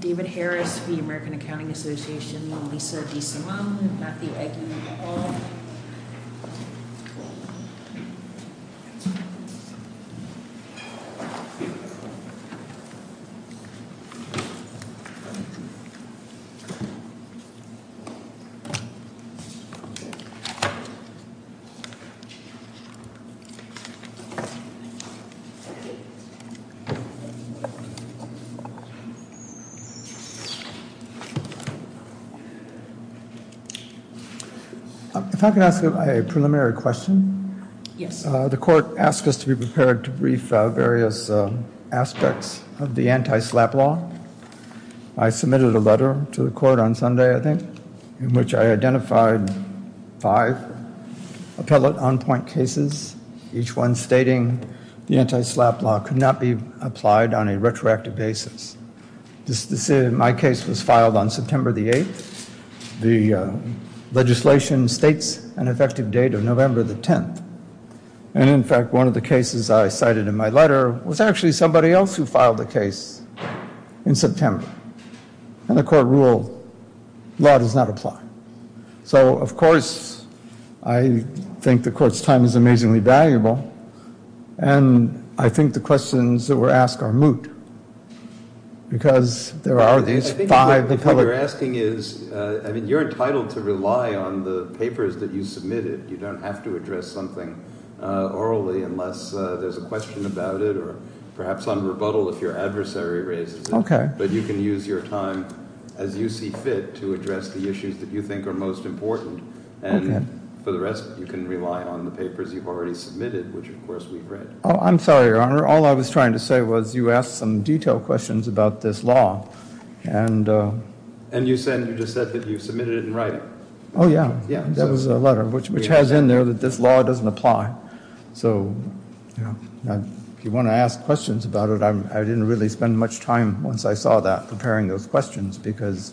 David Harris v. American Accounting Association, Lisa DeSimone, Matthew Eggeman Hall. If I could ask a preliminary question. Yes. The court asked us to be prepared to brief various aspects of the anti-SLAPP law. I submitted a letter to the court on Sunday, I think, in which I identified five appellate on-point cases, each one stating the anti-SLAPP law could not be applied on a retroactive basis. My case was filed on September the 8th. The legislation states an effective date of November the 10th. And in fact, one of the cases I cited in my letter was actually somebody else who filed the case in September. And the court ruled, law does not apply. So, of course, I think the court's time is amazingly valuable. And I think the questions that were asked are moot. Because there are these five appellate. What I'm asking is, I mean, you're entitled to rely on the papers that you submitted. You don't have to address something orally unless there's a question about it or perhaps on rebuttal if your adversary raises it. But you can use your time as you see fit to address the issues that you think are most important. And for the rest, you can rely on the papers you've already submitted, which, of course, we've read. I'm sorry, Your Honor. All I was trying to say was you asked some detailed questions about this law. And you said you just said that you submitted it in writing. Oh, yeah. That was the letter, which has in there that this law doesn't apply. So if you want to ask questions about it, I didn't really spend much time once I saw that preparing those questions because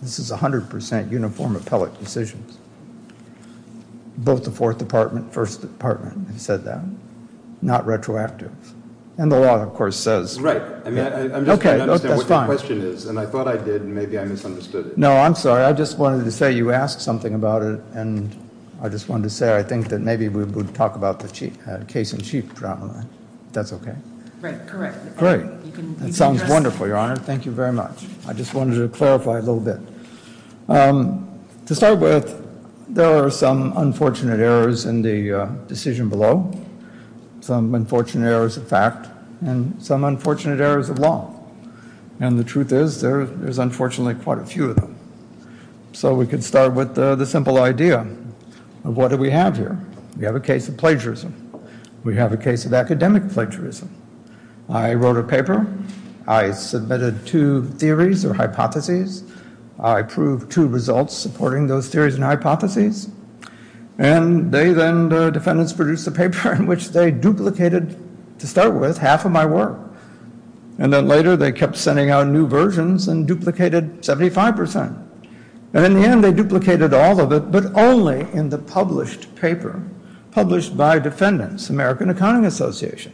this is 100% uniform appellate decisions. Both the Fourth Department and First Department have said that. Not retroactive. And the law, of course, says that. Right. I mean, I'm just trying to understand what your question is. And I thought I did, and maybe I misunderstood it. No, I'm sorry. I just wanted to say you asked something about it, and I just wanted to say I think that maybe we would talk about the case-in-chief problem, if that's okay. Right. Correct. Great. That sounds wonderful, Your Honor. Thank you very much. I just wanted to clarify a little bit. To start with, there are some unfortunate errors in the decision below, some unfortunate errors of fact, and some unfortunate errors of law. And the truth is there's unfortunately quite a few of them. So we could start with the simple idea of what do we have here. We have a case of plagiarism. We have a case of academic plagiarism. I wrote a paper. I submitted two theories or hypotheses. I proved two results supporting those theories and hypotheses. And they then, the defendants, produced a paper in which they duplicated, to start with, half of my work. And then later they kept sending out new versions and duplicated 75%. And in the end they duplicated all of it, but only in the published paper, published by defendants, American Accounting Association.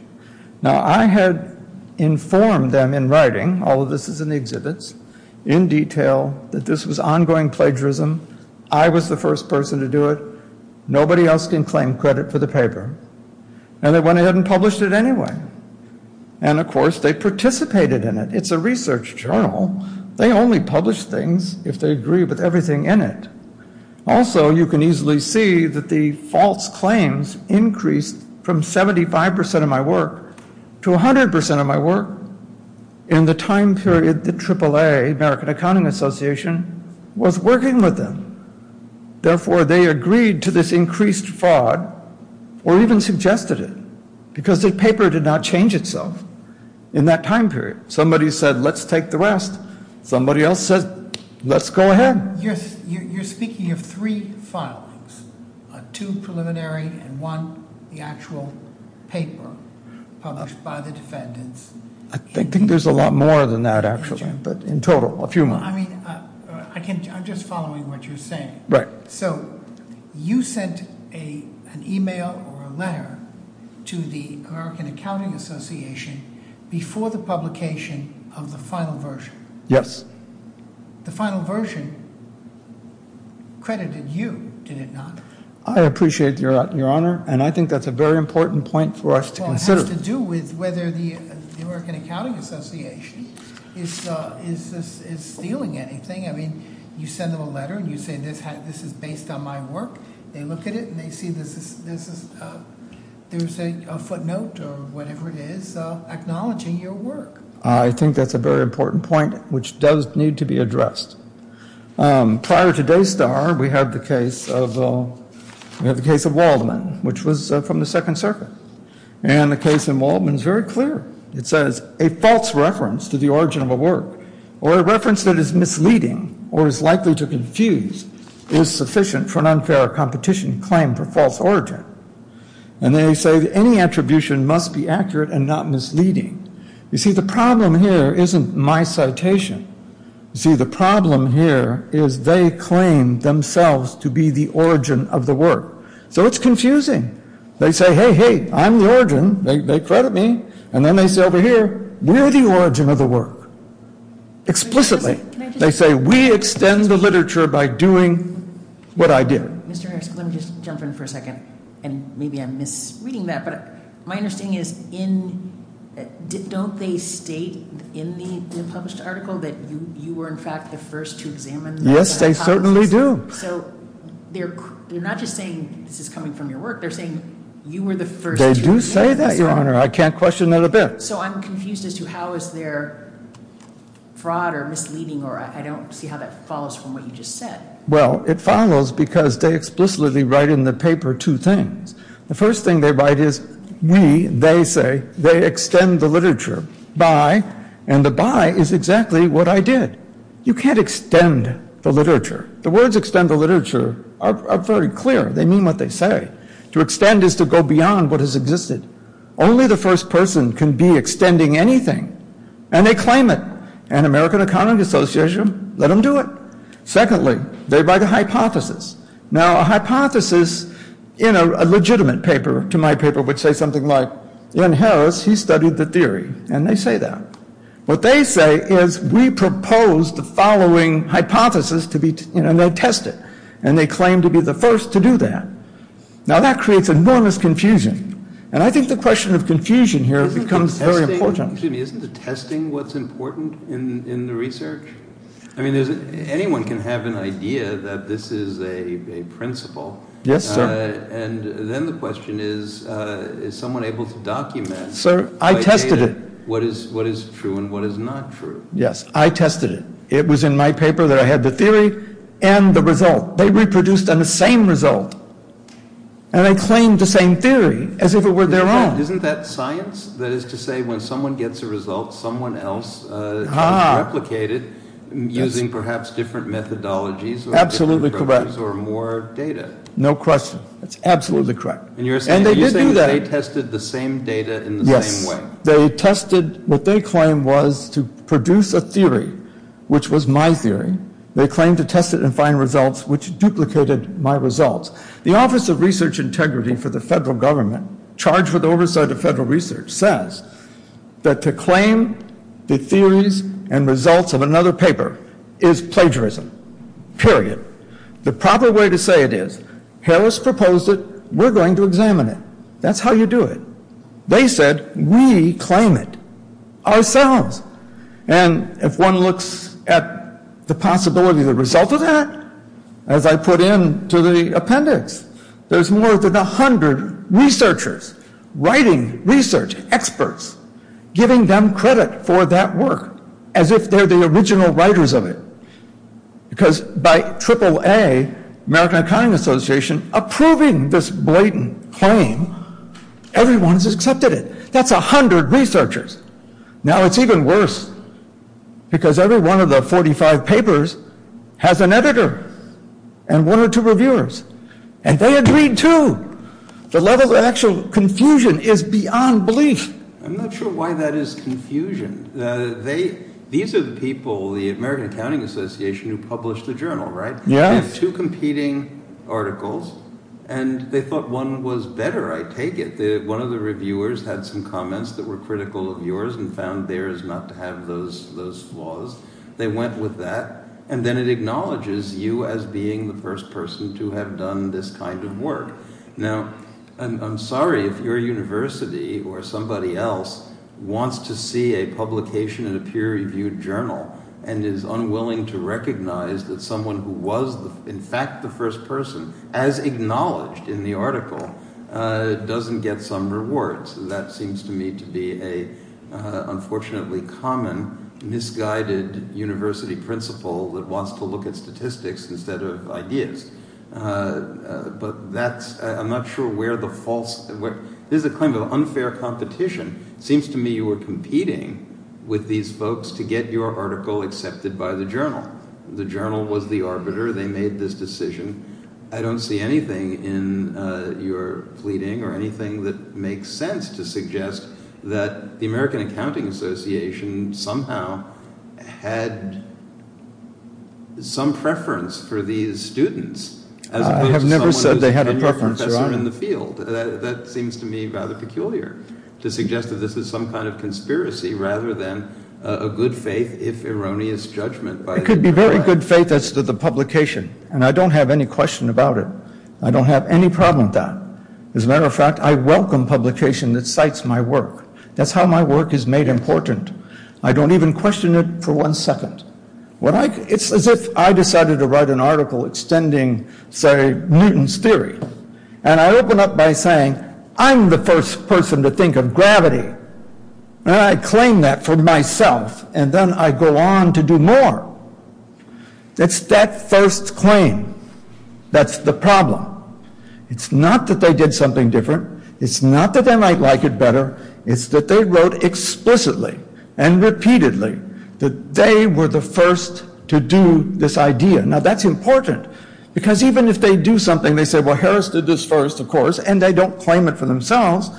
Now I had informed them in writing, all of this is in the exhibits, in detail, that this was ongoing plagiarism. I was the first person to do it. Nobody else can claim credit for the paper. And they went ahead and published it anyway. And, of course, they participated in it. It's a research journal. They only publish things if they agree with everything in it. Also, you can easily see that the false claims increased from 75% of my work to 100% of my work. In the time period the AAA, American Accounting Association, was working with them. Therefore, they agreed to this increased fraud, or even suggested it, because the paper did not change itself in that time period. Somebody said, let's take the rest. Somebody else said, let's go ahead. You're speaking of three filings, two preliminary and one, the actual paper, published by the defendants. I think there's a lot more than that, actually, but in total, a few more. I mean, I'm just following what you're saying. Right. So you sent an email or a letter to the American Accounting Association before the publication of the final version. Yes. The final version credited you, did it not? I appreciate your honor, and I think that's a very important point for us to consider. It has to do with whether the American Accounting Association is stealing anything. I mean, you send them a letter and you say this is based on my work. They look at it and they see there's a footnote or whatever it is acknowledging your work. I think that's a very important point, which does need to be addressed. Prior to Daystar, we had the case of Waldman, which was from the Second Circuit. And the case in Waldman is very clear. It says a false reference to the origin of a work or a reference that is misleading or is likely to confuse is sufficient for an unfair competition claim for false origin. And they say any attribution must be accurate and not misleading. You see, the problem here isn't my citation. You see, the problem here is they claim themselves to be the origin of the work. So it's confusing. They say, hey, hey, I'm the origin. They credit me. And then they say over here, we're the origin of the work. Explicitly. They say we extend the literature by doing what I did. Mr. Harris, let me just jump in for a second. And maybe I'm misreading that, but my understanding is don't they state in the published article that you were, in fact, the first to examine that? Yes, they certainly do. So they're not just saying this is coming from your work. They're saying you were the first to examine this work. They do say that, Your Honor. I can't question that a bit. So I'm confused as to how is there fraud or misleading, or I don't see how that follows from what you just said. Well, it follows because they explicitly write in the paper two things. The first thing they write is we, they say, they extend the literature by, and the by is exactly what I did. You can't extend the literature. The words extend the literature are very clear. They mean what they say. To extend is to go beyond what has existed. Only the first person can be extending anything, and they claim it. And American Economic Association, let them do it. Secondly, they write a hypothesis. Now, a hypothesis in a legitimate paper, to my paper, would say something like, Len Harris, he studied the theory, and they say that. What they say is we propose the following hypothesis, and they test it, and they claim to be the first to do that. Now, that creates enormous confusion, and I think the question of confusion here becomes very important. Excuse me. Isn't the testing what's important in the research? I mean, anyone can have an idea that this is a principle. Yes, sir. And then the question is, is someone able to document. Sir, I tested it. What is true and what is not true? Yes. I tested it. It was in my paper that I had the theory and the result. They reproduced on the same result, and they claimed the same theory as if it were their own. Isn't that science? That is to say, when someone gets a result, someone else can replicate it using perhaps different methodologies. Absolutely correct. Or more data. No question. That's absolutely correct. And they did do that. And you're saying that they tested the same data in the same way. They tested what they claimed was to produce a theory, which was my theory. They claimed to test it and find results, which duplicated my results. The Office of Research Integrity for the federal government, charged with oversight of federal research, says that to claim the theories and results of another paper is plagiarism, period. The proper way to say it is, Harris proposed it. We're going to examine it. That's how you do it. They said, we claim it ourselves. And if one looks at the possibility of the result of that, as I put into the appendix, there's more than a hundred researchers, writing research experts, giving them credit for that work, as if they're the original writers of it. Because by AAA, American Accounting Association, approving this blatant claim, everyone has accepted it. That's a hundred researchers. Now it's even worse, because every one of the 45 papers has an editor and one or two reviewers. And they agreed, too. The level of actual confusion is beyond belief. I'm not sure why that is confusion. These are the people, the American Accounting Association, who published the journal, right? Yes. Two competing articles. And they thought one was better, I take it. One of the reviewers had some comments that were critical of yours and found theirs not to have those flaws. They went with that. And then it acknowledges you as being the first person to have done this kind of work. Now, I'm sorry if your university or somebody else wants to see a publication in a peer-reviewed journal and is unwilling to recognize that someone who was, in fact, the first person, as acknowledged in the article, doesn't get some rewards. That seems to me to be an unfortunately common, misguided university principle that wants to look at statistics instead of ideas. But that's—I'm not sure where the false—this is a claim of unfair competition. It seems to me you were competing with these folks to get your article accepted by the journal. The journal was the arbiter. They made this decision. I don't see anything in your pleading or anything that makes sense to suggest that the American Accounting Association somehow had some preference for these students as opposed to someone who's a tenured professor in the field. I have never said they had a preference, Your Honor. That seems to me rather peculiar to suggest that this is some kind of conspiracy rather than a good-faith, if erroneous, judgment by— It could be very good faith as to the publication, and I don't have any question about it. I don't have any problem with that. As a matter of fact, I welcome publication that cites my work. That's how my work is made important. I don't even question it for one second. It's as if I decided to write an article extending, say, Newton's theory, and I open up by saying, I'm the first person to think of gravity, and I claim that for myself, and then I go on to do more. It's that first claim that's the problem. It's not that they did something different. It's not that they might like it better. It's that they wrote explicitly and repeatedly that they were the first to do this idea. Now, that's important because even if they do something, they say, well, Harris did this first, of course, and they don't claim it for themselves,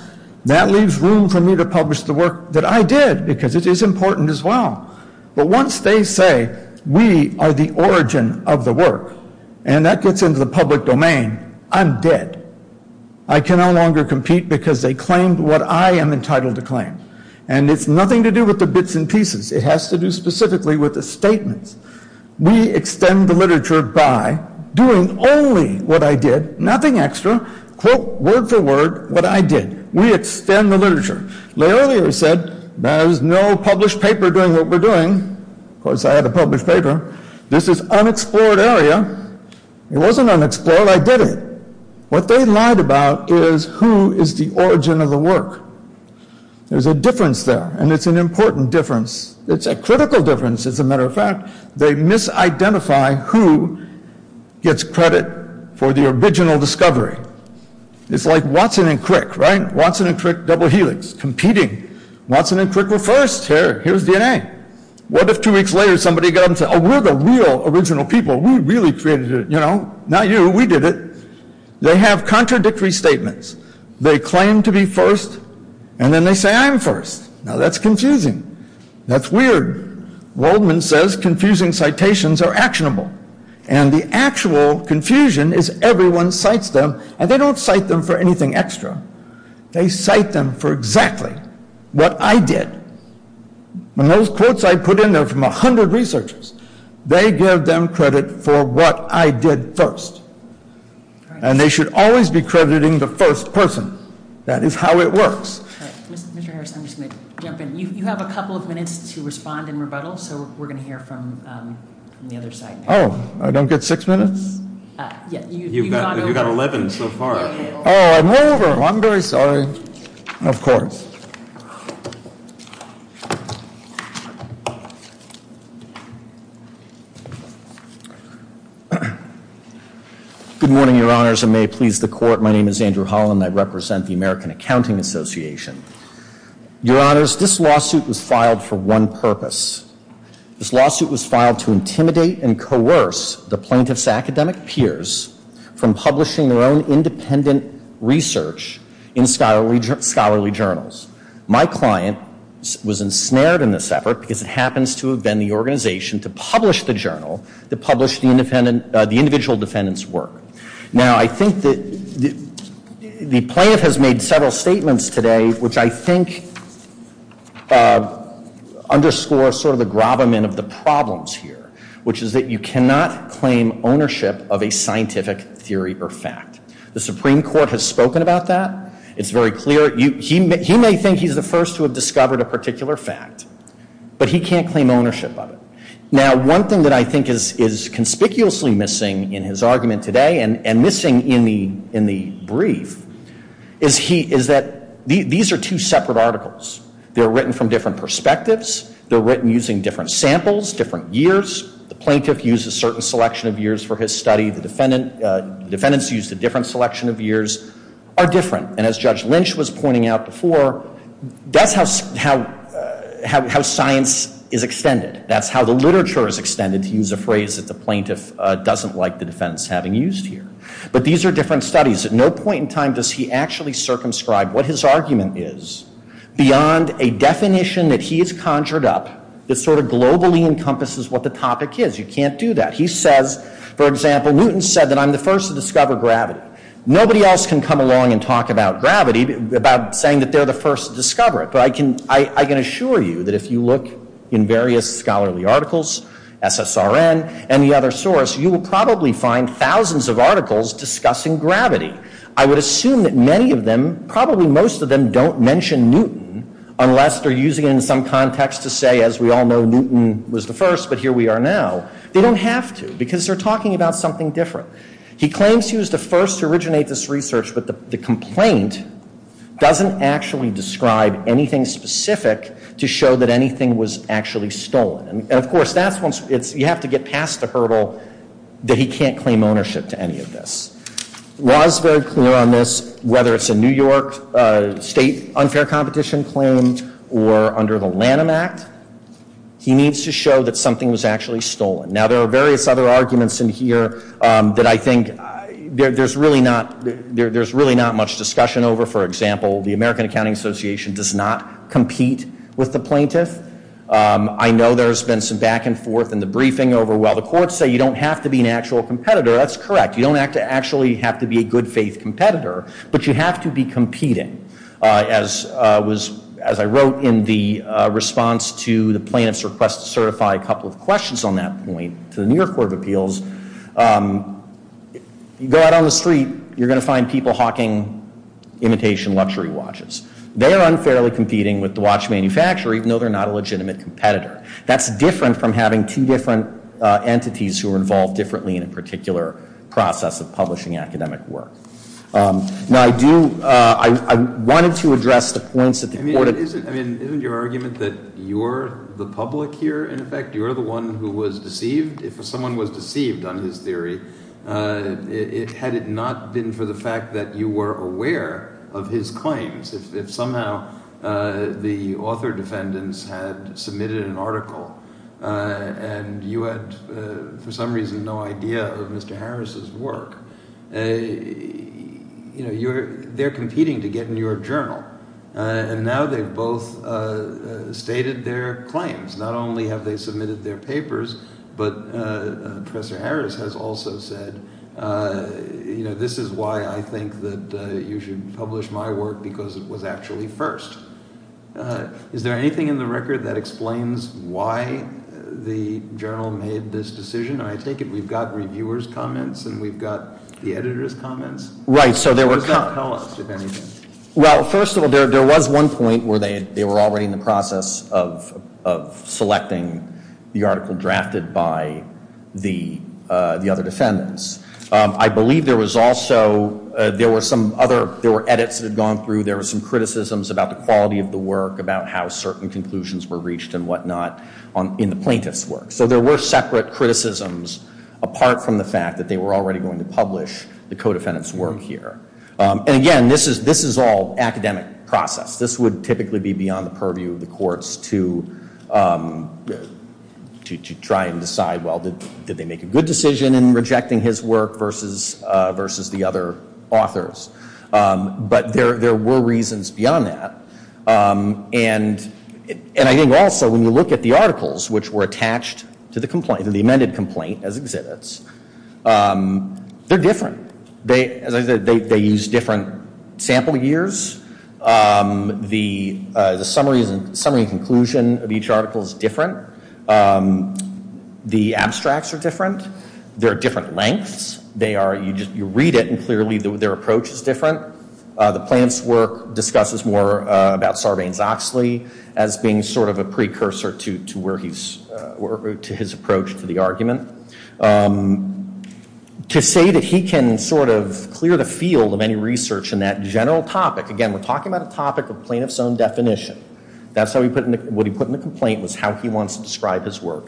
that leaves room for me to publish the work that I did because it is important as well. But once they say, we are the origin of the work, and that gets into the public domain, I'm dead. I can no longer compete because they claimed what I am entitled to claim. And it's nothing to do with the bits and pieces. It has to do specifically with the statements. We extend the literature by doing only what I did, nothing extra, quote, word for word, what I did. We extend the literature. Leolier said, there's no published paper doing what we're doing. Of course, I had a published paper. This is unexplored area. It wasn't unexplored. I did it. What they lied about is who is the origin of the work. There's a difference there, and it's an important difference. It's a critical difference, as a matter of fact. They misidentify who gets credit for the original discovery. It's like Watson and Crick, right? Watson and Crick, double helix, competing. Watson and Crick were first. Here's DNA. What if two weeks later somebody got up and said, oh, we're the real original people. We really created it. Not you. We did it. They have contradictory statements. They claim to be first, and then they say I'm first. Now, that's confusing. That's weird. Waldman says confusing citations are actionable. And the actual confusion is everyone cites them, and they don't cite them for anything extra. They cite them for exactly what I did. When those quotes I put in there from 100 researchers, they give them credit for what I did first. And they should always be crediting the first person. That is how it works. Mr. Harris, I'm just going to jump in. You have a couple of minutes to respond in rebuttal, so we're going to hear from the other side. Oh, I don't get six minutes? You've got 11 so far. Oh, I'm over. I'm very sorry. Of course. Good morning, Your Honors, and may it please the Court. My name is Andrew Holland. I represent the American Accounting Association. Your Honors, this lawsuit was filed for one purpose. This lawsuit was filed to intimidate and coerce the plaintiff's academic peers from publishing their own independent research in scholarly journals. My client was ensnared in this effort because it happens to have been the organization to publish the journal that published the individual defendant's work. Now, I think that the plaintiff has made several statements today, which I think underscore sort of the gravamen of the problems here, which is that you cannot claim ownership of a scientific theory or fact. The Supreme Court has spoken about that. It's very clear. He may think he's the first to have discovered a particular fact, but he can't claim ownership of it. Now, one thing that I think is conspicuously missing in his argument today and missing in the brief is that these are two separate articles. They're written from different perspectives. They're written using different samples, different years. The plaintiff used a certain selection of years for his study. The defendants used a different selection of years. They're different, and as Judge Lynch was pointing out before, that's how science is extended. That's how the literature is extended, to use a phrase that the plaintiff doesn't like the defendants having used here. But these are different studies. At no point in time does he actually circumscribe what his argument is beyond a definition that he has conjured up that sort of globally encompasses what the topic is. You can't do that. He says, for example, Newton said that I'm the first to discover gravity. Nobody else can come along and talk about gravity, about saying that they're the first to discover it. But I can assure you that if you look in various scholarly articles, SSRN, any other source, you will probably find thousands of articles discussing gravity. I would assume that many of them, probably most of them, don't mention Newton unless they're using it in some context to say, as we all know, Newton was the first, but here we are now. They don't have to because they're talking about something different. He claims he was the first to originate this research, but the complaint doesn't actually describe anything specific to show that anything was actually stolen. And, of course, you have to get past the hurdle that he can't claim ownership to any of this. The law is very clear on this, whether it's a New York state unfair competition claim or under the Lanham Act. He needs to show that something was actually stolen. Now, there are various other arguments in here that I think there's really not much discussion over. For example, the American Accounting Association does not compete with the plaintiff. I know there's been some back and forth in the briefing over, well, the courts say you don't have to be an actual competitor. That's correct. You don't actually have to be a good faith competitor, but you have to be competing. As I wrote in the response to the plaintiff's request to certify a couple of questions on that point to the New York Court of Appeals, if you go out on the street, you're going to find people hawking imitation luxury watches. They are unfairly competing with the watch manufacturer, even though they're not a legitimate competitor. That's different from having two different entities who are involved differently in a particular process of publishing academic work. Now, I do – I wanted to address the points that the court – I mean, isn't your argument that you're the public here, in effect? You're the one who was deceived? If someone was deceived on his theory, had it not been for the fact that you were aware of his claims, if somehow the author defendants had submitted an article and you had, for some reason, no idea of Mr. Harris's work, they're competing to get in your journal. And now they've both stated their claims. Not only have they submitted their papers, but Professor Harris has also said, this is why I think that you should publish my work because it was actually first. Is there anything in the record that explains why the journal made this decision? I take it we've got reviewers' comments and we've got the editors' comments? Right, so there were – Just tell us, if anything. Well, first of all, there was one point where they were already in the process of selecting the article drafted by the other defendants. I believe there was also – there were some other – there were edits that had gone through. There were some criticisms about the quality of the work, about how certain conclusions were reached and whatnot in the plaintiff's work. So there were separate criticisms apart from the fact that they were already going to publish the co-defendant's work here. And again, this is all academic process. This would typically be beyond the purview of the courts to try and decide, well, did they make a good decision in rejecting his work versus the other authors? But there were reasons beyond that. And I think also when you look at the articles which were attached to the amended complaint as exhibits, they're different. As I said, they use different sample years. The summary and conclusion of each article is different. The abstracts are different. There are different lengths. You read it and clearly their approach is different. The plaintiff's work discusses more about Sarbanes-Oxley as being sort of a precursor to where he's – to his approach to the argument. To say that he can sort of clear the field of any research in that general topic – again, we're talking about a topic of plaintiff's own definition. That's how he put – what he put in the complaint was how he wants to describe his work.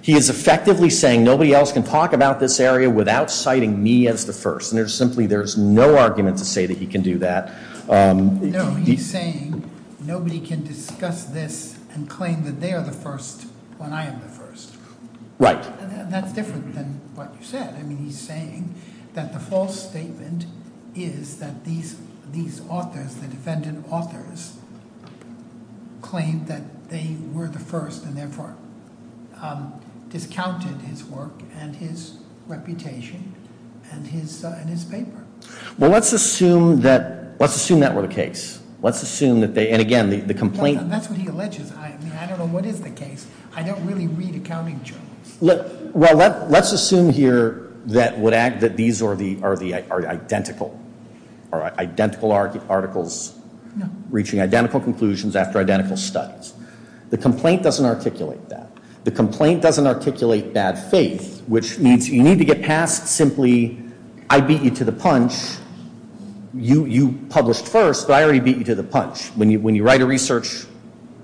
He is effectively saying nobody else can talk about this area without citing me as the first. And there's simply – there's no argument to say that he can do that. No, he's saying nobody can discuss this and claim that they are the first when I am the first. Right. And that's different than what you said. I mean, he's saying that the false statement is that these authors, the defendant authors, claimed that they were the first and therefore discounted his work and his reputation and his paper. Well, let's assume that – let's assume that were the case. Let's assume that they – and again, the complaint – That's what he alleges. I mean, I don't know what is the case. I don't really read accounting journals. Well, let's assume here that these are the identical articles reaching identical conclusions after identical studies. The complaint doesn't articulate that. The complaint doesn't articulate bad faith, which means you need to get past simply I beat you to the punch. You published first, but I already beat you to the punch. When you write a research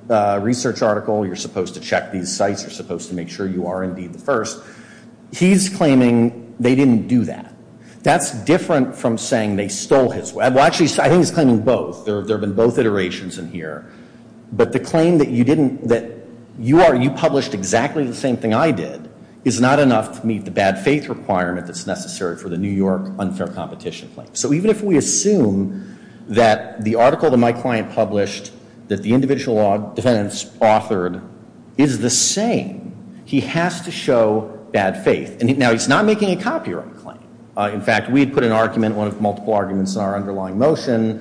article, you're supposed to check these sites. You're supposed to make sure you are indeed the first. He's claiming they didn't do that. That's different from saying they stole his work. Well, actually, I think he's claiming both. There have been both iterations in here. But the claim that you didn't – that you published exactly the same thing I did is not enough to meet the bad faith requirement that's necessary for the New York unfair competition claim. So even if we assume that the article that my client published that the individual defendants authored is the same, he has to show bad faith. Now, he's not making a copyright claim. In fact, we had put an argument, one of multiple arguments in our underlying motion,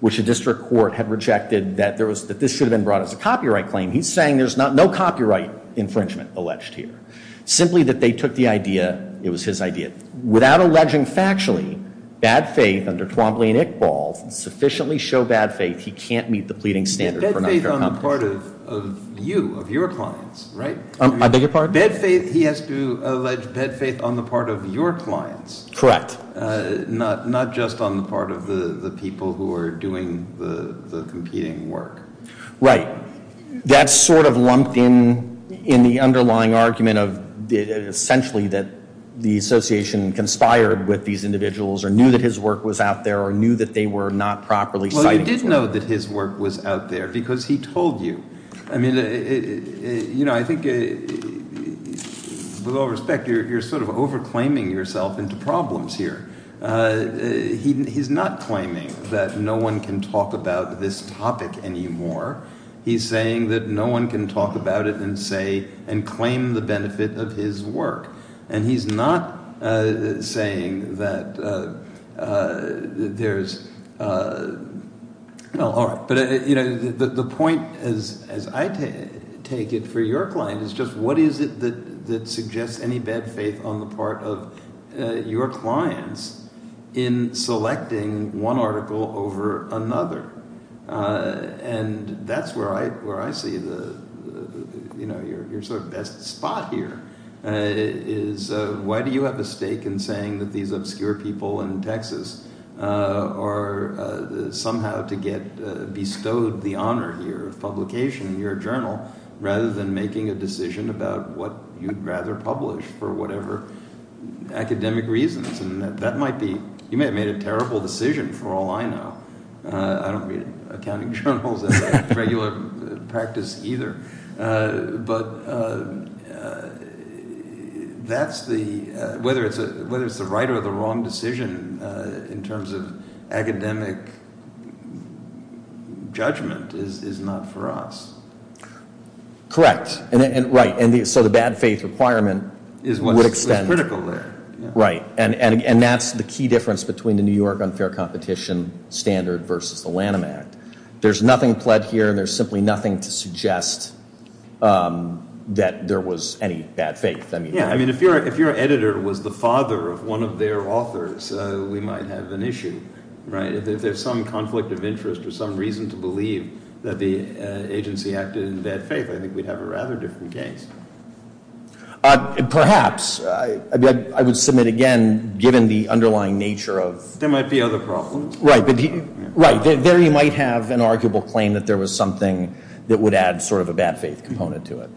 which a district court had rejected that this should have been brought as a copyright claim. He's saying there's no copyright infringement alleged here, simply that they took the idea – it was his idea. Without alleging factually bad faith under Twombly and Iqbal, sufficiently show bad faith, he can't meet the pleading standard for an unfair competition. Bad faith on the part of you, of your clients, right? I beg your pardon? Bad faith – he has to allege bad faith on the part of your clients. Correct. Not just on the part of the people who are doing the competing work. Right. That sort of lumped in in the underlying argument of essentially that the association conspired with these individuals or knew that his work was out there or knew that they were not properly cited. Well, he did know that his work was out there because he told you. I mean, you know, I think with all respect, you're sort of over-claiming yourself into problems here. He's not claiming that no one can talk about this topic anymore. He's saying that no one can talk about it and say – and claim the benefit of his work. And he's not saying that there's – no, all right. But the point, as I take it, for your client is just what is it that suggests any bad faith on the part of your clients in selecting one article over another? And that's where I see the – your sort of best spot here is why do you have a stake in saying that these obscure people in Texas are somehow to get bestowed the honor here of publication in your journal rather than making a decision about what you'd rather publish for whatever academic reasons? And that might be – you may have made a terrible decision for all I know. I don't read accounting journals as a regular practice either. But that's the – whether it's the right or the wrong decision in terms of academic judgment is not for us. Correct. Right. And so the bad faith requirement would extend – Is what's critical there. Right. And that's the key difference between the New York unfair competition standard versus the Lanham Act. There's nothing pled here and there's simply nothing to suggest that there was any bad faith. Yeah, I mean if your editor was the father of one of their authors, we might have an issue, right? If there's some conflict of interest or some reason to believe that the agency acted in bad faith, I think we'd have a rather different case. Perhaps. I would submit again, given the underlying nature of – There might be other problems. Right. Right. There you might have an arguable claim that there was something that would add sort of a bad faith component to it,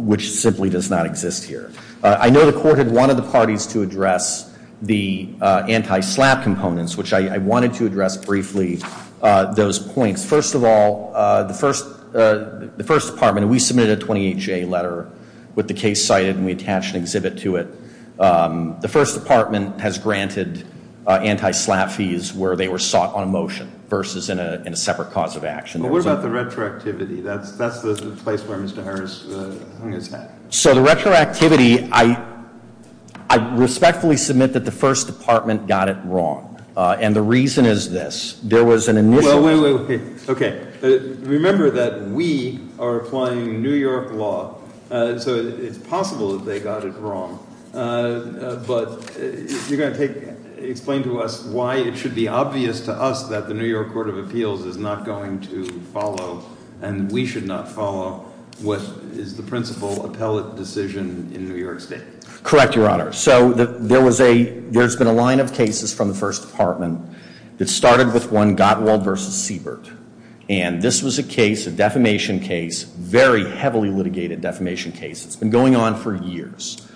which simply does not exist here. I know the court had wanted the parties to address the anti-SLAPP components, which I wanted to address briefly, those points. First of all, the first department, we submitted a 28-J letter with the case cited and we attached an exhibit to it. The first department has granted anti-SLAPP fees where they were sought on a motion versus in a separate cause of action. What about the retroactivity? That's the place where Mr. Harris – So the retroactivity, I respectfully submit that the first department got it wrong. And the reason is this. There was an initial – Wait, wait, wait. Okay. Remember that we are applying New York law. So it's possible that they got it wrong. But you're going to explain to us why it should be obvious to us that the New York Court of Appeals is not going to follow and we should not follow what is the principal appellate decision in New York State. Correct, Your Honor. So there's been a line of cases from the first department that started with one Gottwald v. Siebert. And this was a case, a defamation case, very heavily litigated defamation case. It's been going on for years.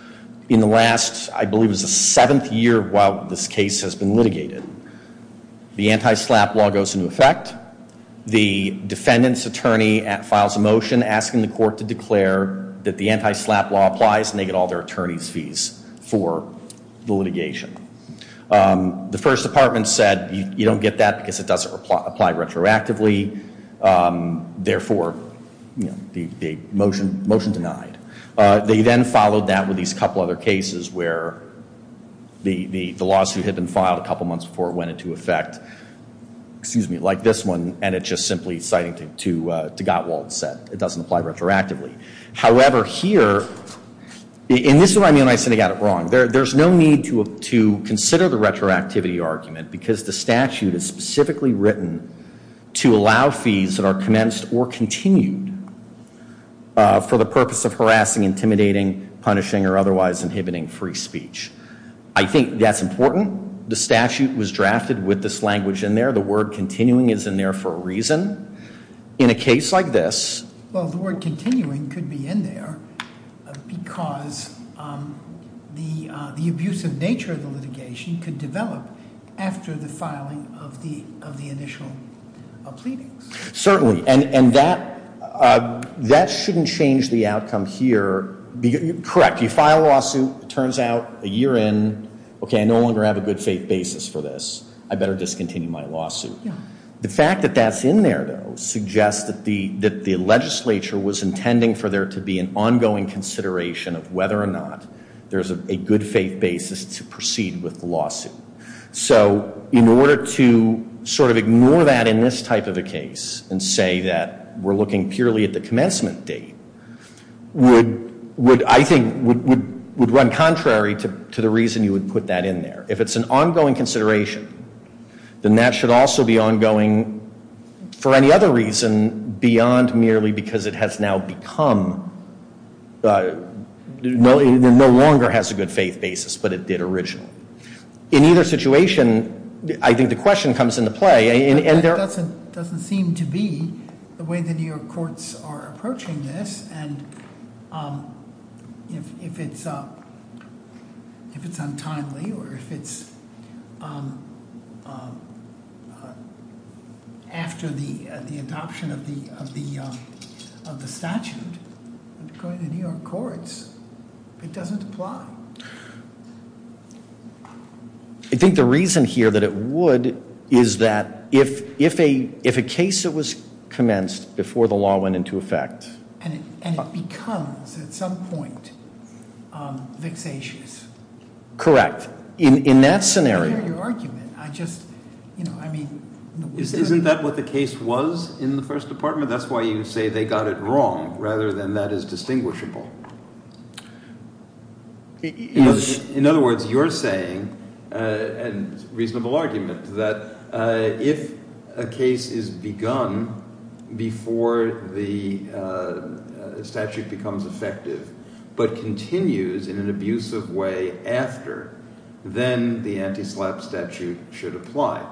In the last, I believe it was the seventh year while this case has been litigated, the anti-SLAPP law goes into effect. The defendant's attorney files a motion asking the court to declare that the anti-SLAPP law applies and they get all their attorney's fees for the litigation. The first department said you don't get that because it doesn't apply retroactively. Therefore, the motion denied. They then followed that with these couple other cases where the lawsuit had been filed a couple months before it went into effect, like this one, and it's just simply citing to Gottwald's set. It doesn't apply retroactively. However, here, and this is where I said I got it wrong. There's no need to consider the retroactivity argument because the statute is specifically written to allow fees that are commenced or continued for the purpose of harassing, intimidating, punishing, or otherwise inhibiting free speech. I think that's important. The statute was drafted with this language in there. In a case like this. Well, the word continuing could be in there because the abusive nature of the litigation could develop after the filing of the initial pleadings. Certainly, and that shouldn't change the outcome here. Correct. You file a lawsuit. It turns out a year in, okay, I no longer have a good faith basis for this. I better discontinue my lawsuit. The fact that that's in there, though, suggests that the legislature was intending for there to be an ongoing consideration of whether or not there's a good faith basis to proceed with the lawsuit. So in order to sort of ignore that in this type of a case and say that we're looking purely at the commencement date would, I think, would run contrary to the reason you would put that in there. If it's an ongoing consideration, then that should also be ongoing for any other reason beyond merely because it has now become, no longer has a good faith basis, but it did originally. In either situation, I think the question comes into play. It doesn't seem to be the way the New York courts are approaching this. And if it's untimely or if it's after the adoption of the statute, according to New York courts, it doesn't apply. I think the reason here that it would is that if a case that was commenced before the law went into effect- And it becomes, at some point, vexatious. Correct. In that scenario- I hear your argument. I just, you know, I mean- Isn't that what the case was in the first department? That's why you say they got it wrong rather than that is distinguishable. In other words, you're saying, and it's a reasonable argument, that if a case is begun before the statute becomes effective but continues in an abusive way after, then the anti-SLAPP statute should apply.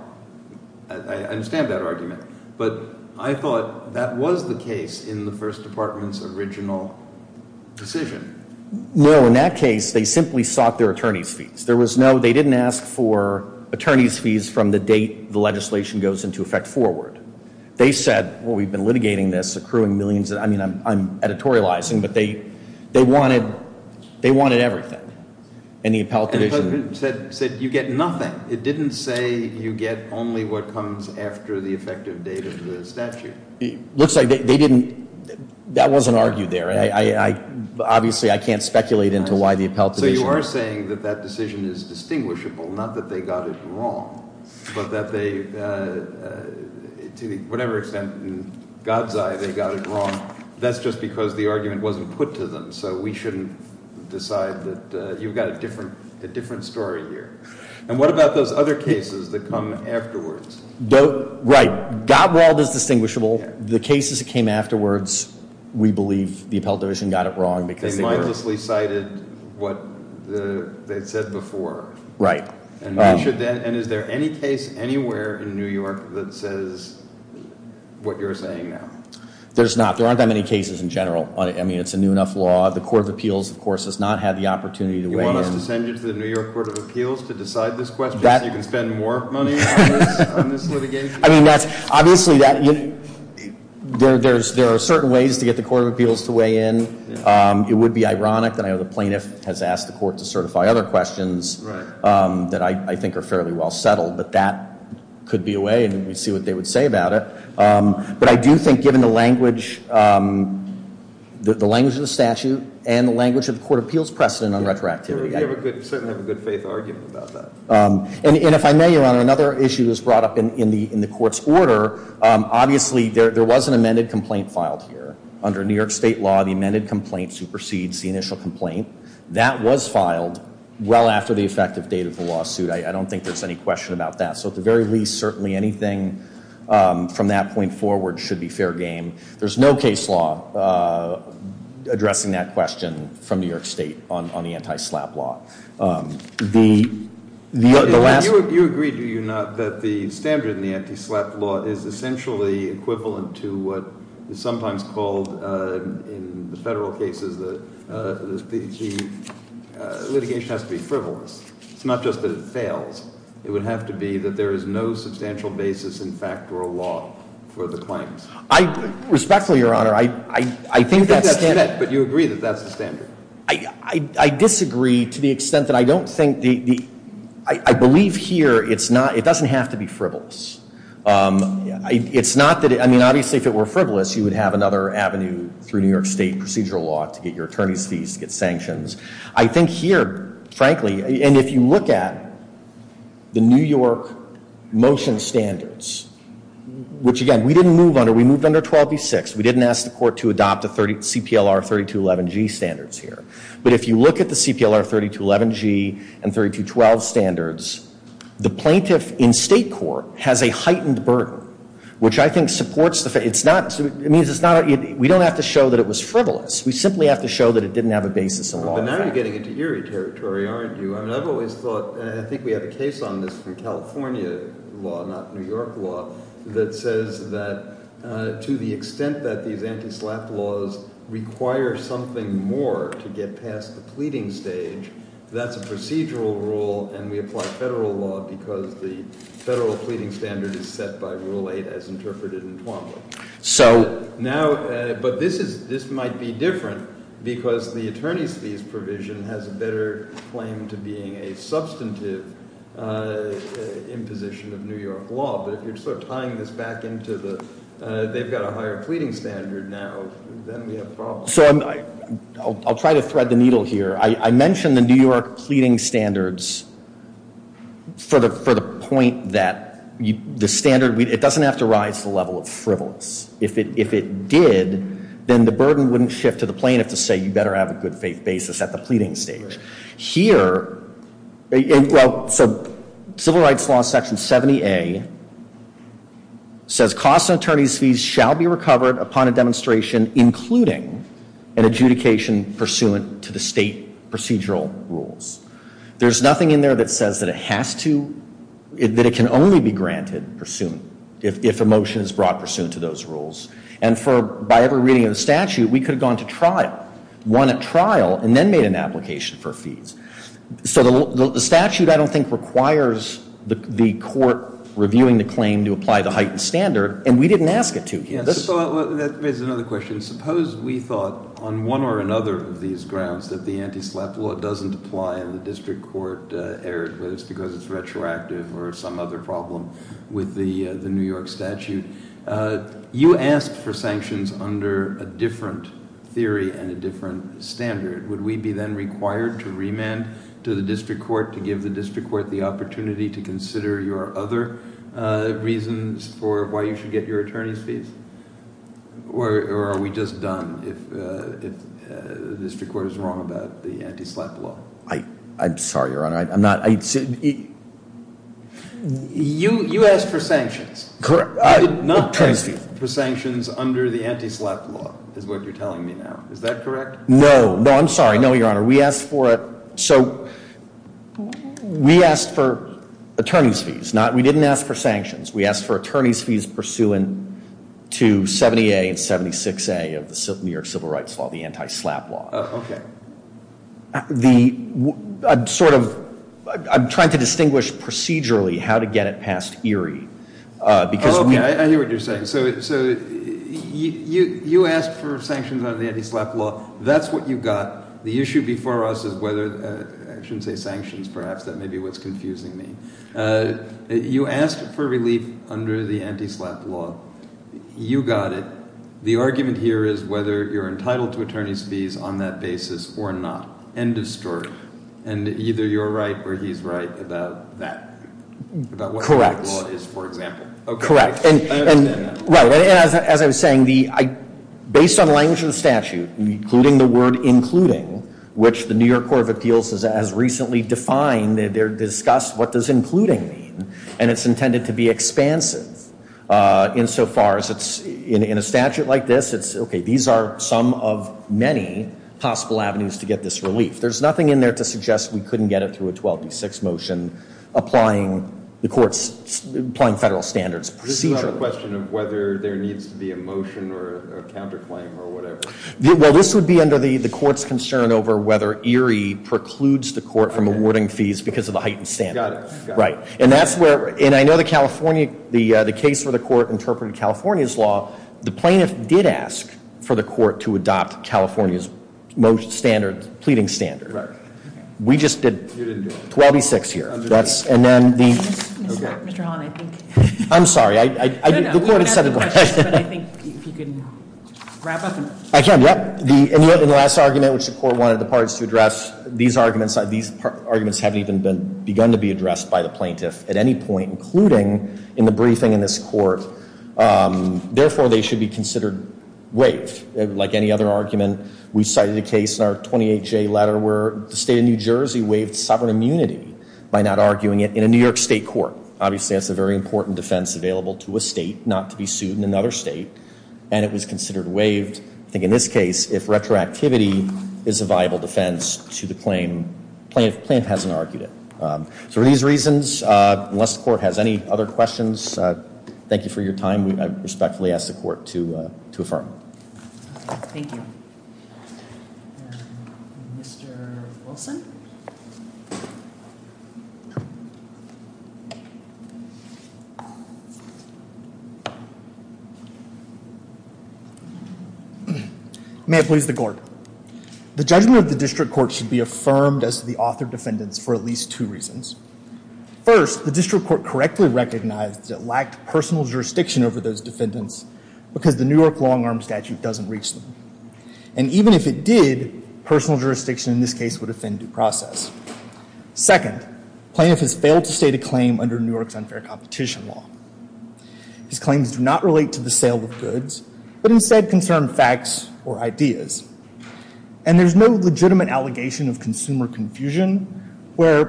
I understand that argument. But I thought that was the case in the first department's original decision. No, in that case, they simply sought their attorney's fees. There was no- they didn't ask for attorney's fees from the date the legislation goes into effect forward. They said, well, we've been litigating this, accruing millions of- I mean, I'm editorializing, but they wanted everything. And the appellate division- Said you get nothing. It didn't say you get only what comes after the effective date of the statute. It looks like they didn't- that wasn't argued there. Obviously, I can't speculate into why the appellate division- So you are saying that that decision is distinguishable, not that they got it wrong, but that they, to whatever extent in God's eye they got it wrong, that's just because the argument wasn't put to them. So we shouldn't decide that- you've got a different story here. And what about those other cases that come afterwards? Right. Gottwald is distinguishable. The cases that came afterwards, we believe the appellate division got it wrong because they were- They mindlessly cited what they'd said before. Right. And is there any case anywhere in New York that says what you're saying now? There's not. There aren't that many cases in general. I mean, it's a new enough law. The Court of Appeals, of course, has not had the opportunity to weigh in. You want us to send you to the New York Court of Appeals to decide this question so you can spend more money on this litigation? I mean, that's- obviously, there are certain ways to get the Court of Appeals to weigh in. It would be ironic that I know the plaintiff has asked the court to certify other questions that I think are fairly well settled, but that could be a way, and we'd see what they would say about it. But I do think, given the language of the statute and the language of the Court of Appeals precedent on retroactivity- You certainly have a good faith argument about that. And if I may, Your Honor, another issue that was brought up in the Court's order, obviously, there was an amended complaint filed here. Under New York State law, the amended complaint supersedes the initial complaint. That was filed well after the effective date of the lawsuit. I don't think there's any question about that. So at the very least, certainly anything from that point forward should be fair game. There's no case law addressing that question from New York State on the anti-SLAPP law. The last- You agree, do you not, that the standard in the anti-SLAPP law is essentially equivalent to what is sometimes called, in the federal cases, the litigation has to be frivolous. It's not just that it fails. It would have to be that there is no substantial basis in fact or law for the claims. Respectfully, Your Honor, I think that's- But you agree that that's the standard. I disagree to the extent that I don't think the- I believe here it's not- it doesn't have to be frivolous. It's not that- I mean, obviously, if it were frivolous, you would have another avenue through New York State procedural law to get your attorney's fees, to get sanctions. I think here, frankly, and if you look at the New York motion standards, which, again, we didn't move under. We moved under 12D6. We didn't ask the court to adopt the CPLR 3211G standards here. But if you look at the CPLR 3211G and 3212 standards, the plaintiff in state court has a heightened burden, which I think supports the- It means it's not- we don't have to show that it was frivolous. We simply have to show that it didn't have a basis in law. But now you're getting into eerie territory, aren't you? I mean, I've always thought- I think we have a case on this from California law, not New York law, that says that to the extent that these anti-SLAPP laws require something more to get past the pleading stage, that's a procedural rule and we apply federal law because the federal pleading standard is set by Rule 8 as interpreted in Twombly. So- Now- but this is- this might be different because the attorney's fees provision has a better claim to being a substantive imposition of New York law. But if you're sort of tying this back into the- they've got a higher pleading standard now, then we have problems. So I'm- I'll try to thread the needle here. I mentioned the New York pleading standards for the point that the standard- it doesn't have to rise to the level of frivolous. If it did, then the burden wouldn't shift to the plaintiff to say you better have a good faith basis at the pleading stage. Here- well, so Civil Rights Law Section 70A says cost of attorney's fees shall be recovered upon a demonstration including an adjudication pursuant to the state procedural rules. There's nothing in there that says that it has to- that it can only be granted pursuant- if a motion is brought pursuant to those rules. And for- by every reading of the statute, we could have gone to trial, won at trial, and then made an application for fees. So the statute, I don't think, requires the court reviewing the claim to apply the heightened standard, and we didn't ask it to here. That raises another question. Suppose we thought on one or another of these grounds that the anti-SLAPP law doesn't apply and the district court erred, whether it's because it's retroactive or some other problem with the New York statute. You asked for sanctions under a different theory and a different standard. Would we be then required to remand to the district court to give the district court the opportunity to consider your other reasons for why you should get your attorney's fees? Or are we just done if the district court is wrong about the anti-SLAPP law? I'm sorry, Your Honor. I'm not- I said- You asked for sanctions. Correct. You did not ask for sanctions under the anti-SLAPP law is what you're telling me now. Is that correct? No. No, I'm sorry. No, Your Honor. We asked for it- so we asked for attorney's fees. We didn't ask for sanctions. We asked for attorney's fees pursuant to 70A and 76A of the New York Civil Rights Law, the anti-SLAPP law. Oh, okay. The- I'm sort of- I'm trying to distinguish procedurally how to get it past Erie because we- Oh, okay. I hear what you're saying. So you asked for sanctions under the anti-SLAPP law. That's what you got. The issue before us is whether- I shouldn't say sanctions. Perhaps that may be what's confusing me. You asked for relief under the anti-SLAPP law. You got it. The argument here is whether you're entitled to attorney's fees on that basis or not. End of story. And either you're right or he's right about that. Correct. About what that law is, for example. Correct. I understand that. Right. And as I was saying, based on the language of the statute, including the word including, which the New York Court of Appeals has recently defined, they've discussed what does including mean. And it's intended to be expansive insofar as it's- in a statute like this, it's- okay, these are some of many possible avenues to get this relief. There's nothing in there to suggest we couldn't get it through a 12D6 motion applying the court's- applying federal standards procedurally. This is not a question of whether there needs to be a motion or a counterclaim or whatever. Well, this would be under the court's concern over whether Erie precludes the court from awarding fees because of the heightened standard. Got it. Right. And that's where- and I know the California- the case where the court interpreted California's law, the plaintiff did ask for the court to adopt California's most standard- pleading standard. Right. We just did 12D6 here. That's- and then the- Mr. Holland, I think- I'm sorry, I- No, no. You can ask the questions, but I think if you can wrap up and- I can, yep. And yet in the last argument, which the court wanted the parties to address, these arguments haven't even begun to be addressed by the plaintiff at any point, including in the briefing in this court. Therefore, they should be considered waived. Like any other argument, we cited a case in our 28J letter where the state of New Jersey waived sovereign immunity by not arguing it in a New York state court. Obviously, that's a very important defense available to a state not to be sued in another state, and it was considered waived. I think in this case, if retroactivity is a viable defense to the claim, the plaintiff hasn't argued it. So for these reasons, unless the court has any other questions, thank you for your time. I respectfully ask the court to affirm. Thank you. Mr. Wilson? May it please the court. The judgment of the district court should be affirmed as to the author defendants for at least two reasons. First, the district court correctly recognized that it lacked personal jurisdiction over those defendants because the New York long-arm statute doesn't reach them. And even if it did, personal jurisdiction in this case would offend due process. Second, plaintiff has failed to state a claim under New York's unfair competition law. His claims do not relate to the sale of goods, but instead concern facts or ideas. And there's no legitimate allegation of consumer confusion where,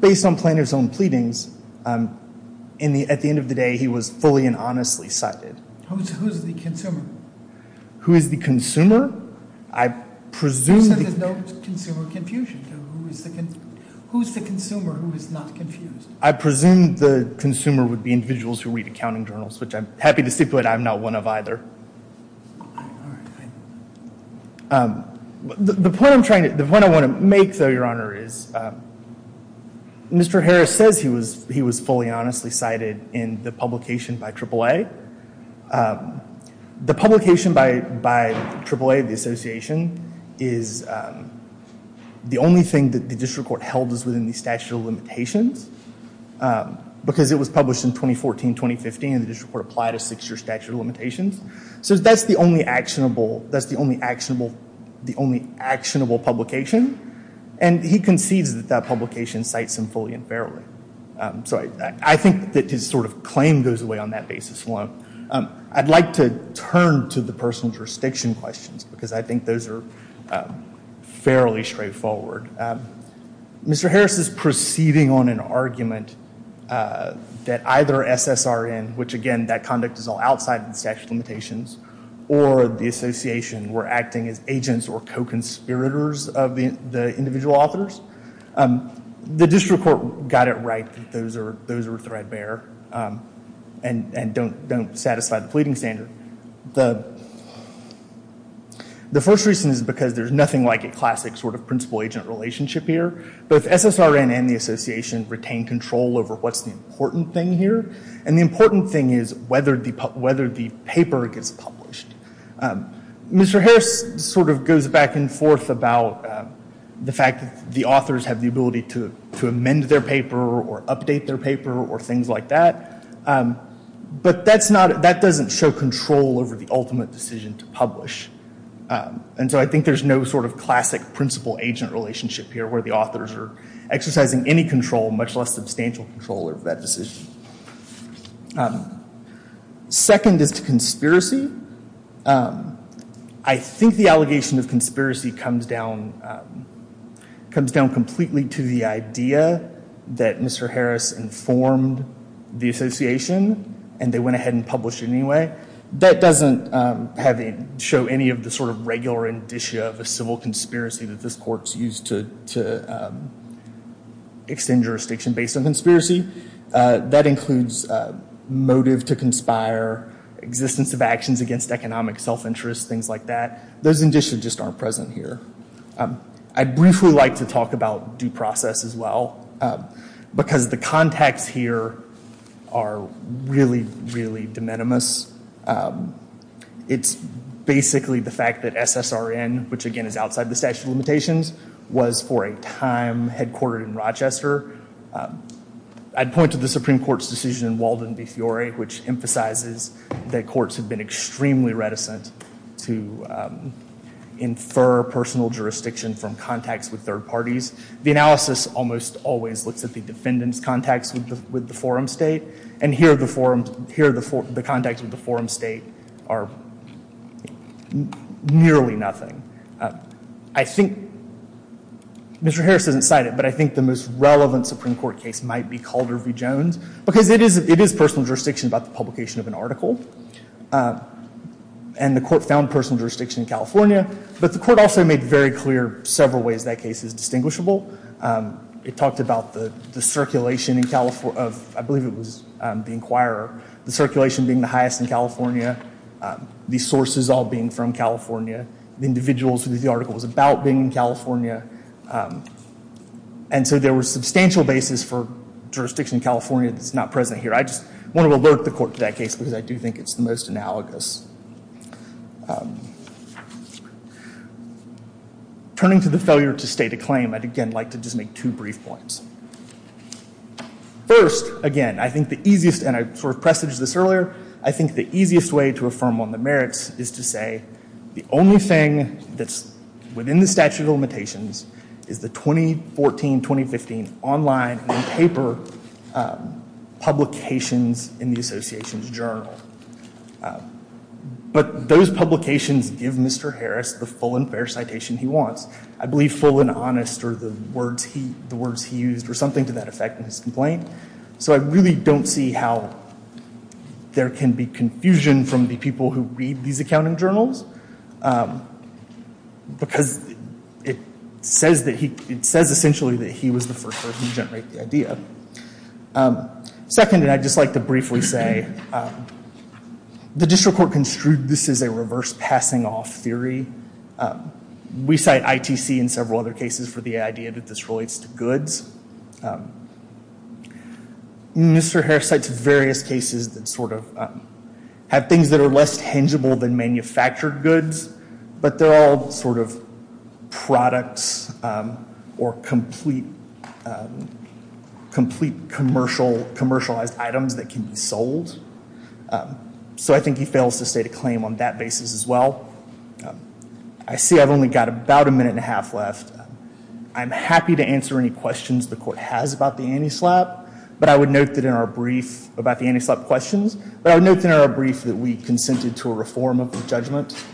based on plaintiff's own pleadings, at the end of the day, he was fully and honestly cited. Who's the consumer? Who is the consumer? I presume the... You said there's no consumer confusion. Who's the consumer who is not confused? I presume the consumer would be individuals who read accounting journals, which I'm happy to stipulate I'm not one of either. The point I want to make, though, Your Honor, is Mr. Harris says he was fully and honestly cited in the publication by AAA. The publication by AAA, the association, is the only thing that the district court held as within the statute of limitations because it was published in 2014-2015 and the district court applied a six-year statute of limitations. So that's the only actionable publication. And he concedes that that publication cites him fully and fairly. So I think that his sort of claim goes away on that basis alone. I'd like to turn to the personal jurisdiction questions because I think those are fairly straightforward. Mr. Harris is proceeding on an argument that either SSRN, which, again, that conduct is all outside the statute of limitations, or the association were acting as agents or co-conspirators of the individual authors. The district court got it right that those are threadbare and don't satisfy the pleading standard. The first reason is because there's nothing like a classic sort of principal-agent relationship here. Both SSRN and the association retain control over what's the important thing here, and the important thing is whether the paper gets published. Mr. Harris sort of goes back and forth about the fact that the authors have the ability to amend their paper or update their paper or things like that, but that doesn't show control over the ultimate decision to publish. And so I think there's no sort of classic principal-agent relationship here where the authors are exercising any control, much less substantial control over that decision. Second is to conspiracy. I think the allegation of conspiracy comes down completely to the idea that Mr. Harris informed the association and they went ahead and published it anyway. That doesn't show any of the sort of regular indicia of a civil conspiracy that this court's used to extend jurisdiction based on conspiracy. That includes motive to conspire, existence of actions against economic self-interest, things like that. Those indicia just aren't present here. I'd briefly like to talk about due process as well because the context here are really, really de minimis. It's basically the fact that SSRN, which again is outside the statute of limitations, was for a time headquartered in Rochester. I'd point to the Supreme Court's decision in Walden v. Fiore, which emphasizes that courts have been extremely reticent to infer personal jurisdiction from contacts with third parties. The analysis almost always looks at the defendant's contacts with the forum state, and here the contacts with the forum state are nearly nothing. I think Mr. Harris doesn't cite it, but I think the most relevant Supreme Court case might be Calder v. Jones because it is personal jurisdiction about the publication of an article, and the court found personal jurisdiction in California, but the court also made very clear several ways that case is distinguishable. It talked about the circulation in California of, I believe it was the inquirer, the circulation being the highest in California, the sources all being from California, the individuals who the article was about being in California, and so there were substantial bases for jurisdiction in California that's not present here. I just want to alert the court to that case because I do think it's the most analogous. Turning to the failure to state a claim, I'd again like to just make two brief points. First, again, I think the easiest, and I sort of presaged this earlier, I think the easiest way to affirm on the merits is to say the only thing that's within the statute of limitations is the 2014-2015 online and paper publications in the association's journal, but those publications give Mr. Harris the full and fair citation he wants. I believe full and honest are the words he used or something to that effect in his complaint, so I really don't see how there can be confusion from the people who read these accounting journals because it says essentially that he was the first person to generate the idea. Second, and I'd just like to briefly say, the district court construed this as a reverse passing-off theory. We cite ITC in several other cases for the idea that this relates to goods. Mr. Harris cites various cases that sort of have things that are less tangible than manufactured goods, but they're all sort of products or complete commercialized items that can be sold, so I think he fails to state a claim on that basis as well. I see I've only got about a minute and a half left. I'm happy to answer any questions the court has about the anti-SLAPP, but I would note that in our brief about the anti-SLAPP questions, but I would note in our brief that we consented to a reform of the judgment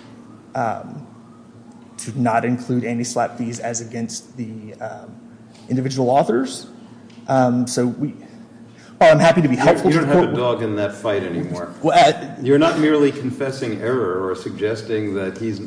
to not include anti-SLAPP fees as against the individual authors, so I'm happy to be helpful to the court. I don't want to dog in that fight anymore. You're not merely confessing error or suggesting that he's,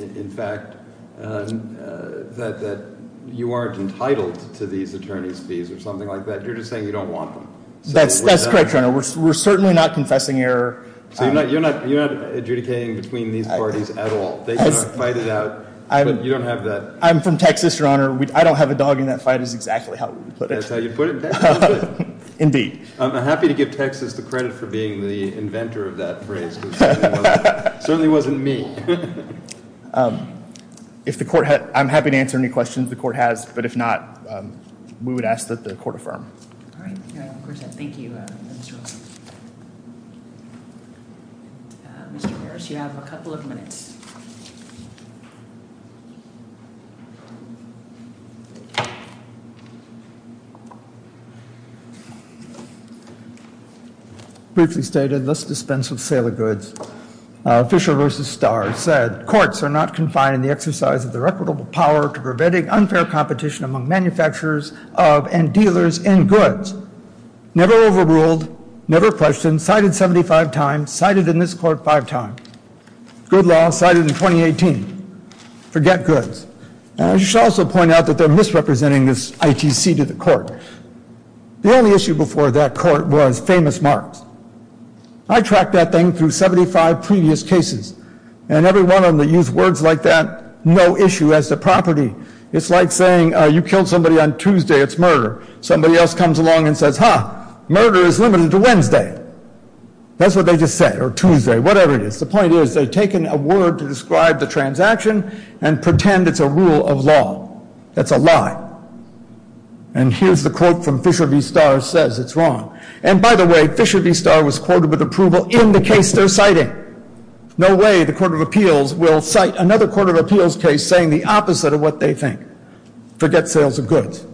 in fact, that you aren't entitled to these attorney's fees or something like that. You're just saying you don't want them. That's correct, Your Honor. We're certainly not confessing error. So you're not adjudicating between these parties at all. They can fight it out, but you don't have that. I'm from Texas, Your Honor. I don't have a dog in that fight is exactly how we would put it. That's how you would put it in Texas. Indeed. I'm happy to give Texas the credit for being the inventor of that phrase. It certainly wasn't me. I'm happy to answer any questions the court has, but if not, we would ask that the court affirm. Thank you, Mr. Olson. Mr. Harris, you have a couple of minutes. Briefly stated, let's dispense with sale of goods. Fisher v. Starr said courts are not confined in the exercise of their equitable power to preventing unfair competition among manufacturers and dealers in goods. Never overruled. Never questioned. Cited 75 times. Cited in this court five times. Good law. Cited in 2018. Forget goods. I should also point out that they're misrepresenting this ITC to the court. The only issue before that court was famous marks. I tracked that thing through 75 previous cases, and every one of them that used words like that, no issue as to property. It's like saying you killed somebody on Tuesday. It's murder. Somebody else comes along and says, ha, murder is limited to Wednesday. That's what they just said, or Tuesday, whatever it is. The point is they've taken a word to describe the transaction and pretend it's a rule of law. That's a lie. And here's the quote from Fisher v. Starr, says it's wrong. And, by the way, Fisher v. Starr was quoted with approval in the case they're citing. No way the Court of Appeals will cite another Court of Appeals case saying the opposite of what they think. Forget sales of goods.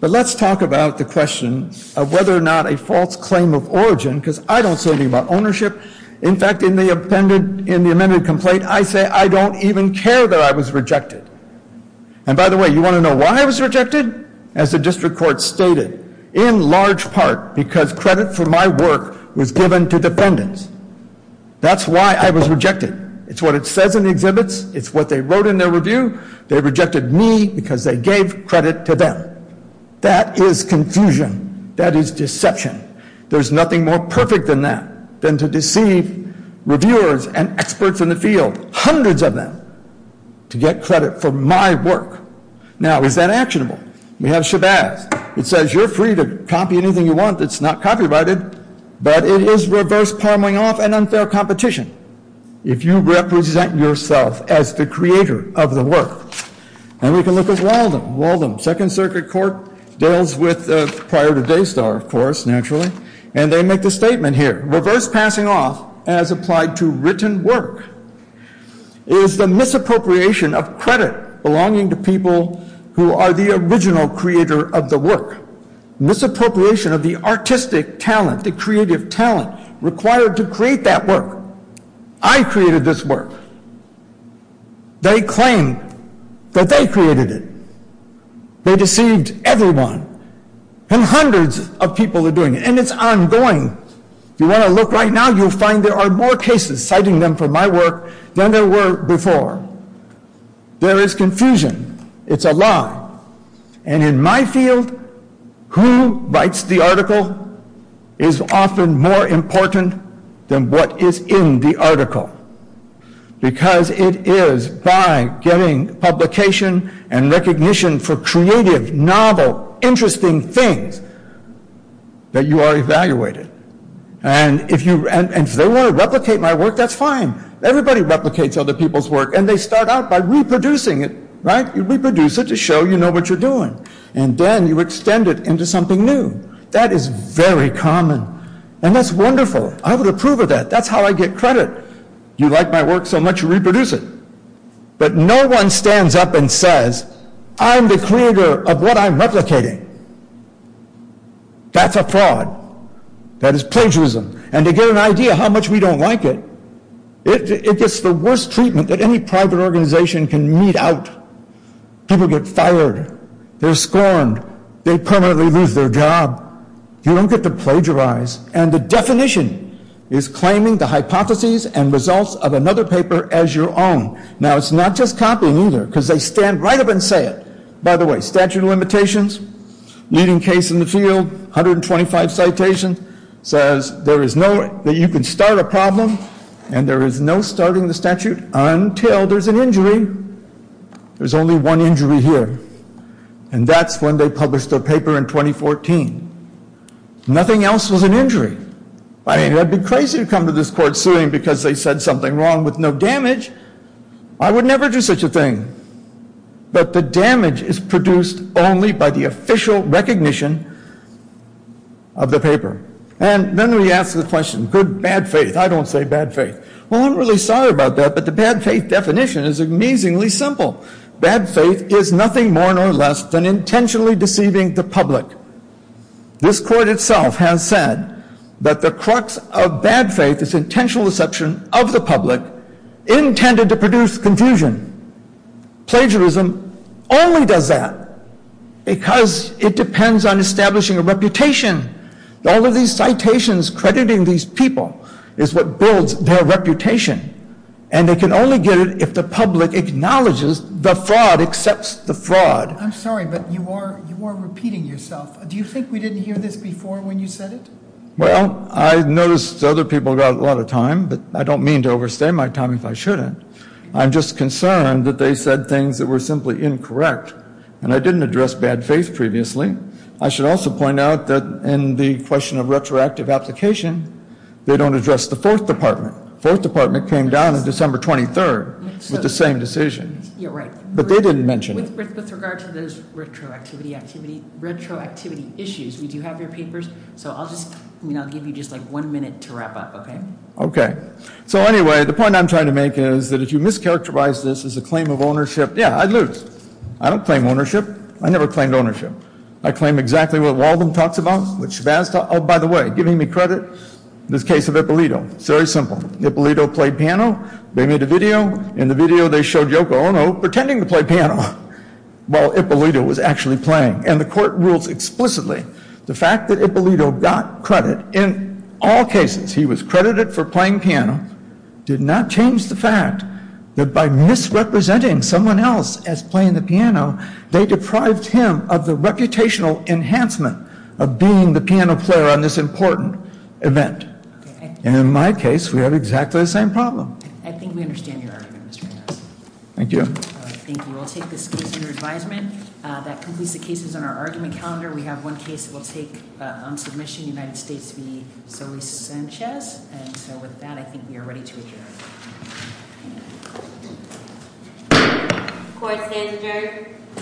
But let's talk about the question of whether or not a false claim of origin, because I don't say anything about ownership. In fact, in the amended complaint, I say I don't even care that I was rejected. And, by the way, you want to know why I was rejected? As the district court stated, in large part because credit for my work was given to defendants. That's why I was rejected. It's what it says in the exhibits. It's what they wrote in their review. They rejected me because they gave credit to them. That is confusion. That is deception. There's nothing more perfect than that, than to deceive reviewers and experts in the field, hundreds of them, to get credit for my work. Now, is that actionable? We have Shabazz. It says you're free to copy anything you want that's not copyrighted, but it is reverse-parmeling off an unfair competition. If you represent yourself as the creator of the work. And we can look at Walden. Second Circuit Court deals with prior to Daystar, of course, naturally, and they make the statement here. Reverse-passing off, as applied to written work, is the misappropriation of credit belonging to people who are the original creator of the work. Misappropriation of the artistic talent, the creative talent required to create that work. I created this work. They claim that they created it. They deceived everyone. And hundreds of people are doing it. And it's ongoing. If you want to look right now, you'll find there are more cases citing them for my work than there were before. There is confusion. It's a lie. And in my field, who writes the article is often more important than what is in the article. Because it is by getting publication and recognition for creative, novel, interesting things that you are evaluated. And if they want to replicate my work, that's fine. Everybody replicates other people's work. And they start out by reproducing it. Right? You reproduce it to show you know what you're doing. And then you extend it into something new. That is very common. And that's wonderful. I would approve of that. That's how I get credit. You like my work so much, you reproduce it. But no one stands up and says, I'm the creator of what I'm replicating. That's a fraud. That is plagiarism. And to get an idea how much we don't like it, it gets the worst treatment that any private organization can mete out. People get fired. They're scorned. They permanently lose their job. You don't get to plagiarize. And the definition is claiming the hypotheses and results of another paper as your own. Now, it's not just copying either, because they stand right up and say it. By the way, statute of limitations, leading case in the field, 125 citations, says that you can start a problem and there is no starting the statute until there's an injury. There's only one injury here. And that's when they published their paper in 2014. Nothing else was an injury. I mean, it would be crazy to come to this court suing because they said something wrong with no damage. I would never do such a thing. But the damage is produced only by the official recognition of the paper. And then we ask the question, good bad faith. I don't say bad faith. Well, I'm really sorry about that, but the bad faith definition is amazingly simple. Bad faith is nothing more nor less than intentionally deceiving the public. This court itself has said that the crux of bad faith is intentional deception of the public intended to produce confusion. Plagiarism only does that because it depends on establishing a reputation. All of these citations crediting these people is what builds their reputation. And they can only get it if the public acknowledges the fraud, accepts the fraud. I'm sorry, but you are repeating yourself. Do you think we didn't hear this before when you said it? Well, I noticed other people got a lot of time, but I don't mean to overstay my time if I shouldn't. I'm just concerned that they said things that were simply incorrect. And I didn't address bad faith previously. I should also point out that in the question of retroactive application, they don't address the Fourth Department. Fourth Department came down on December 23rd with the same decision. Yeah, right. But they didn't mention it. With regard to those retroactivity issues, we do have your papers. So I'll just give you just like one minute to wrap up, okay? Okay. So anyway, the point I'm trying to make is that if you mischaracterize this as a claim of ownership, yeah, I'd lose. I don't claim ownership. I never claimed ownership. I claim exactly what Walden talks about, what Shabazz talks about. Oh, by the way, giving me credit, this case of Ippolito, it's very simple. Ippolito played piano. They made a video. In the video, they showed Yoko Ono pretending to play piano while Ippolito was actually playing. And the court rules explicitly the fact that Ippolito got credit in all cases, he was credited for playing piano, did not change the fact that by misrepresenting someone else as playing the piano, they deprived him of the reputational enhancement of being the piano player on this important event. And in my case, we have exactly the same problem. I think we understand your argument, Mr. Reyes. Thank you. Thank you. We'll take this case under advisement. That completes the cases on our argument calendar. We have one case that we'll take on submission, United States v. Zoe Sanchez. And so with that, I think we are ready to adjourn. Court stands adjourned.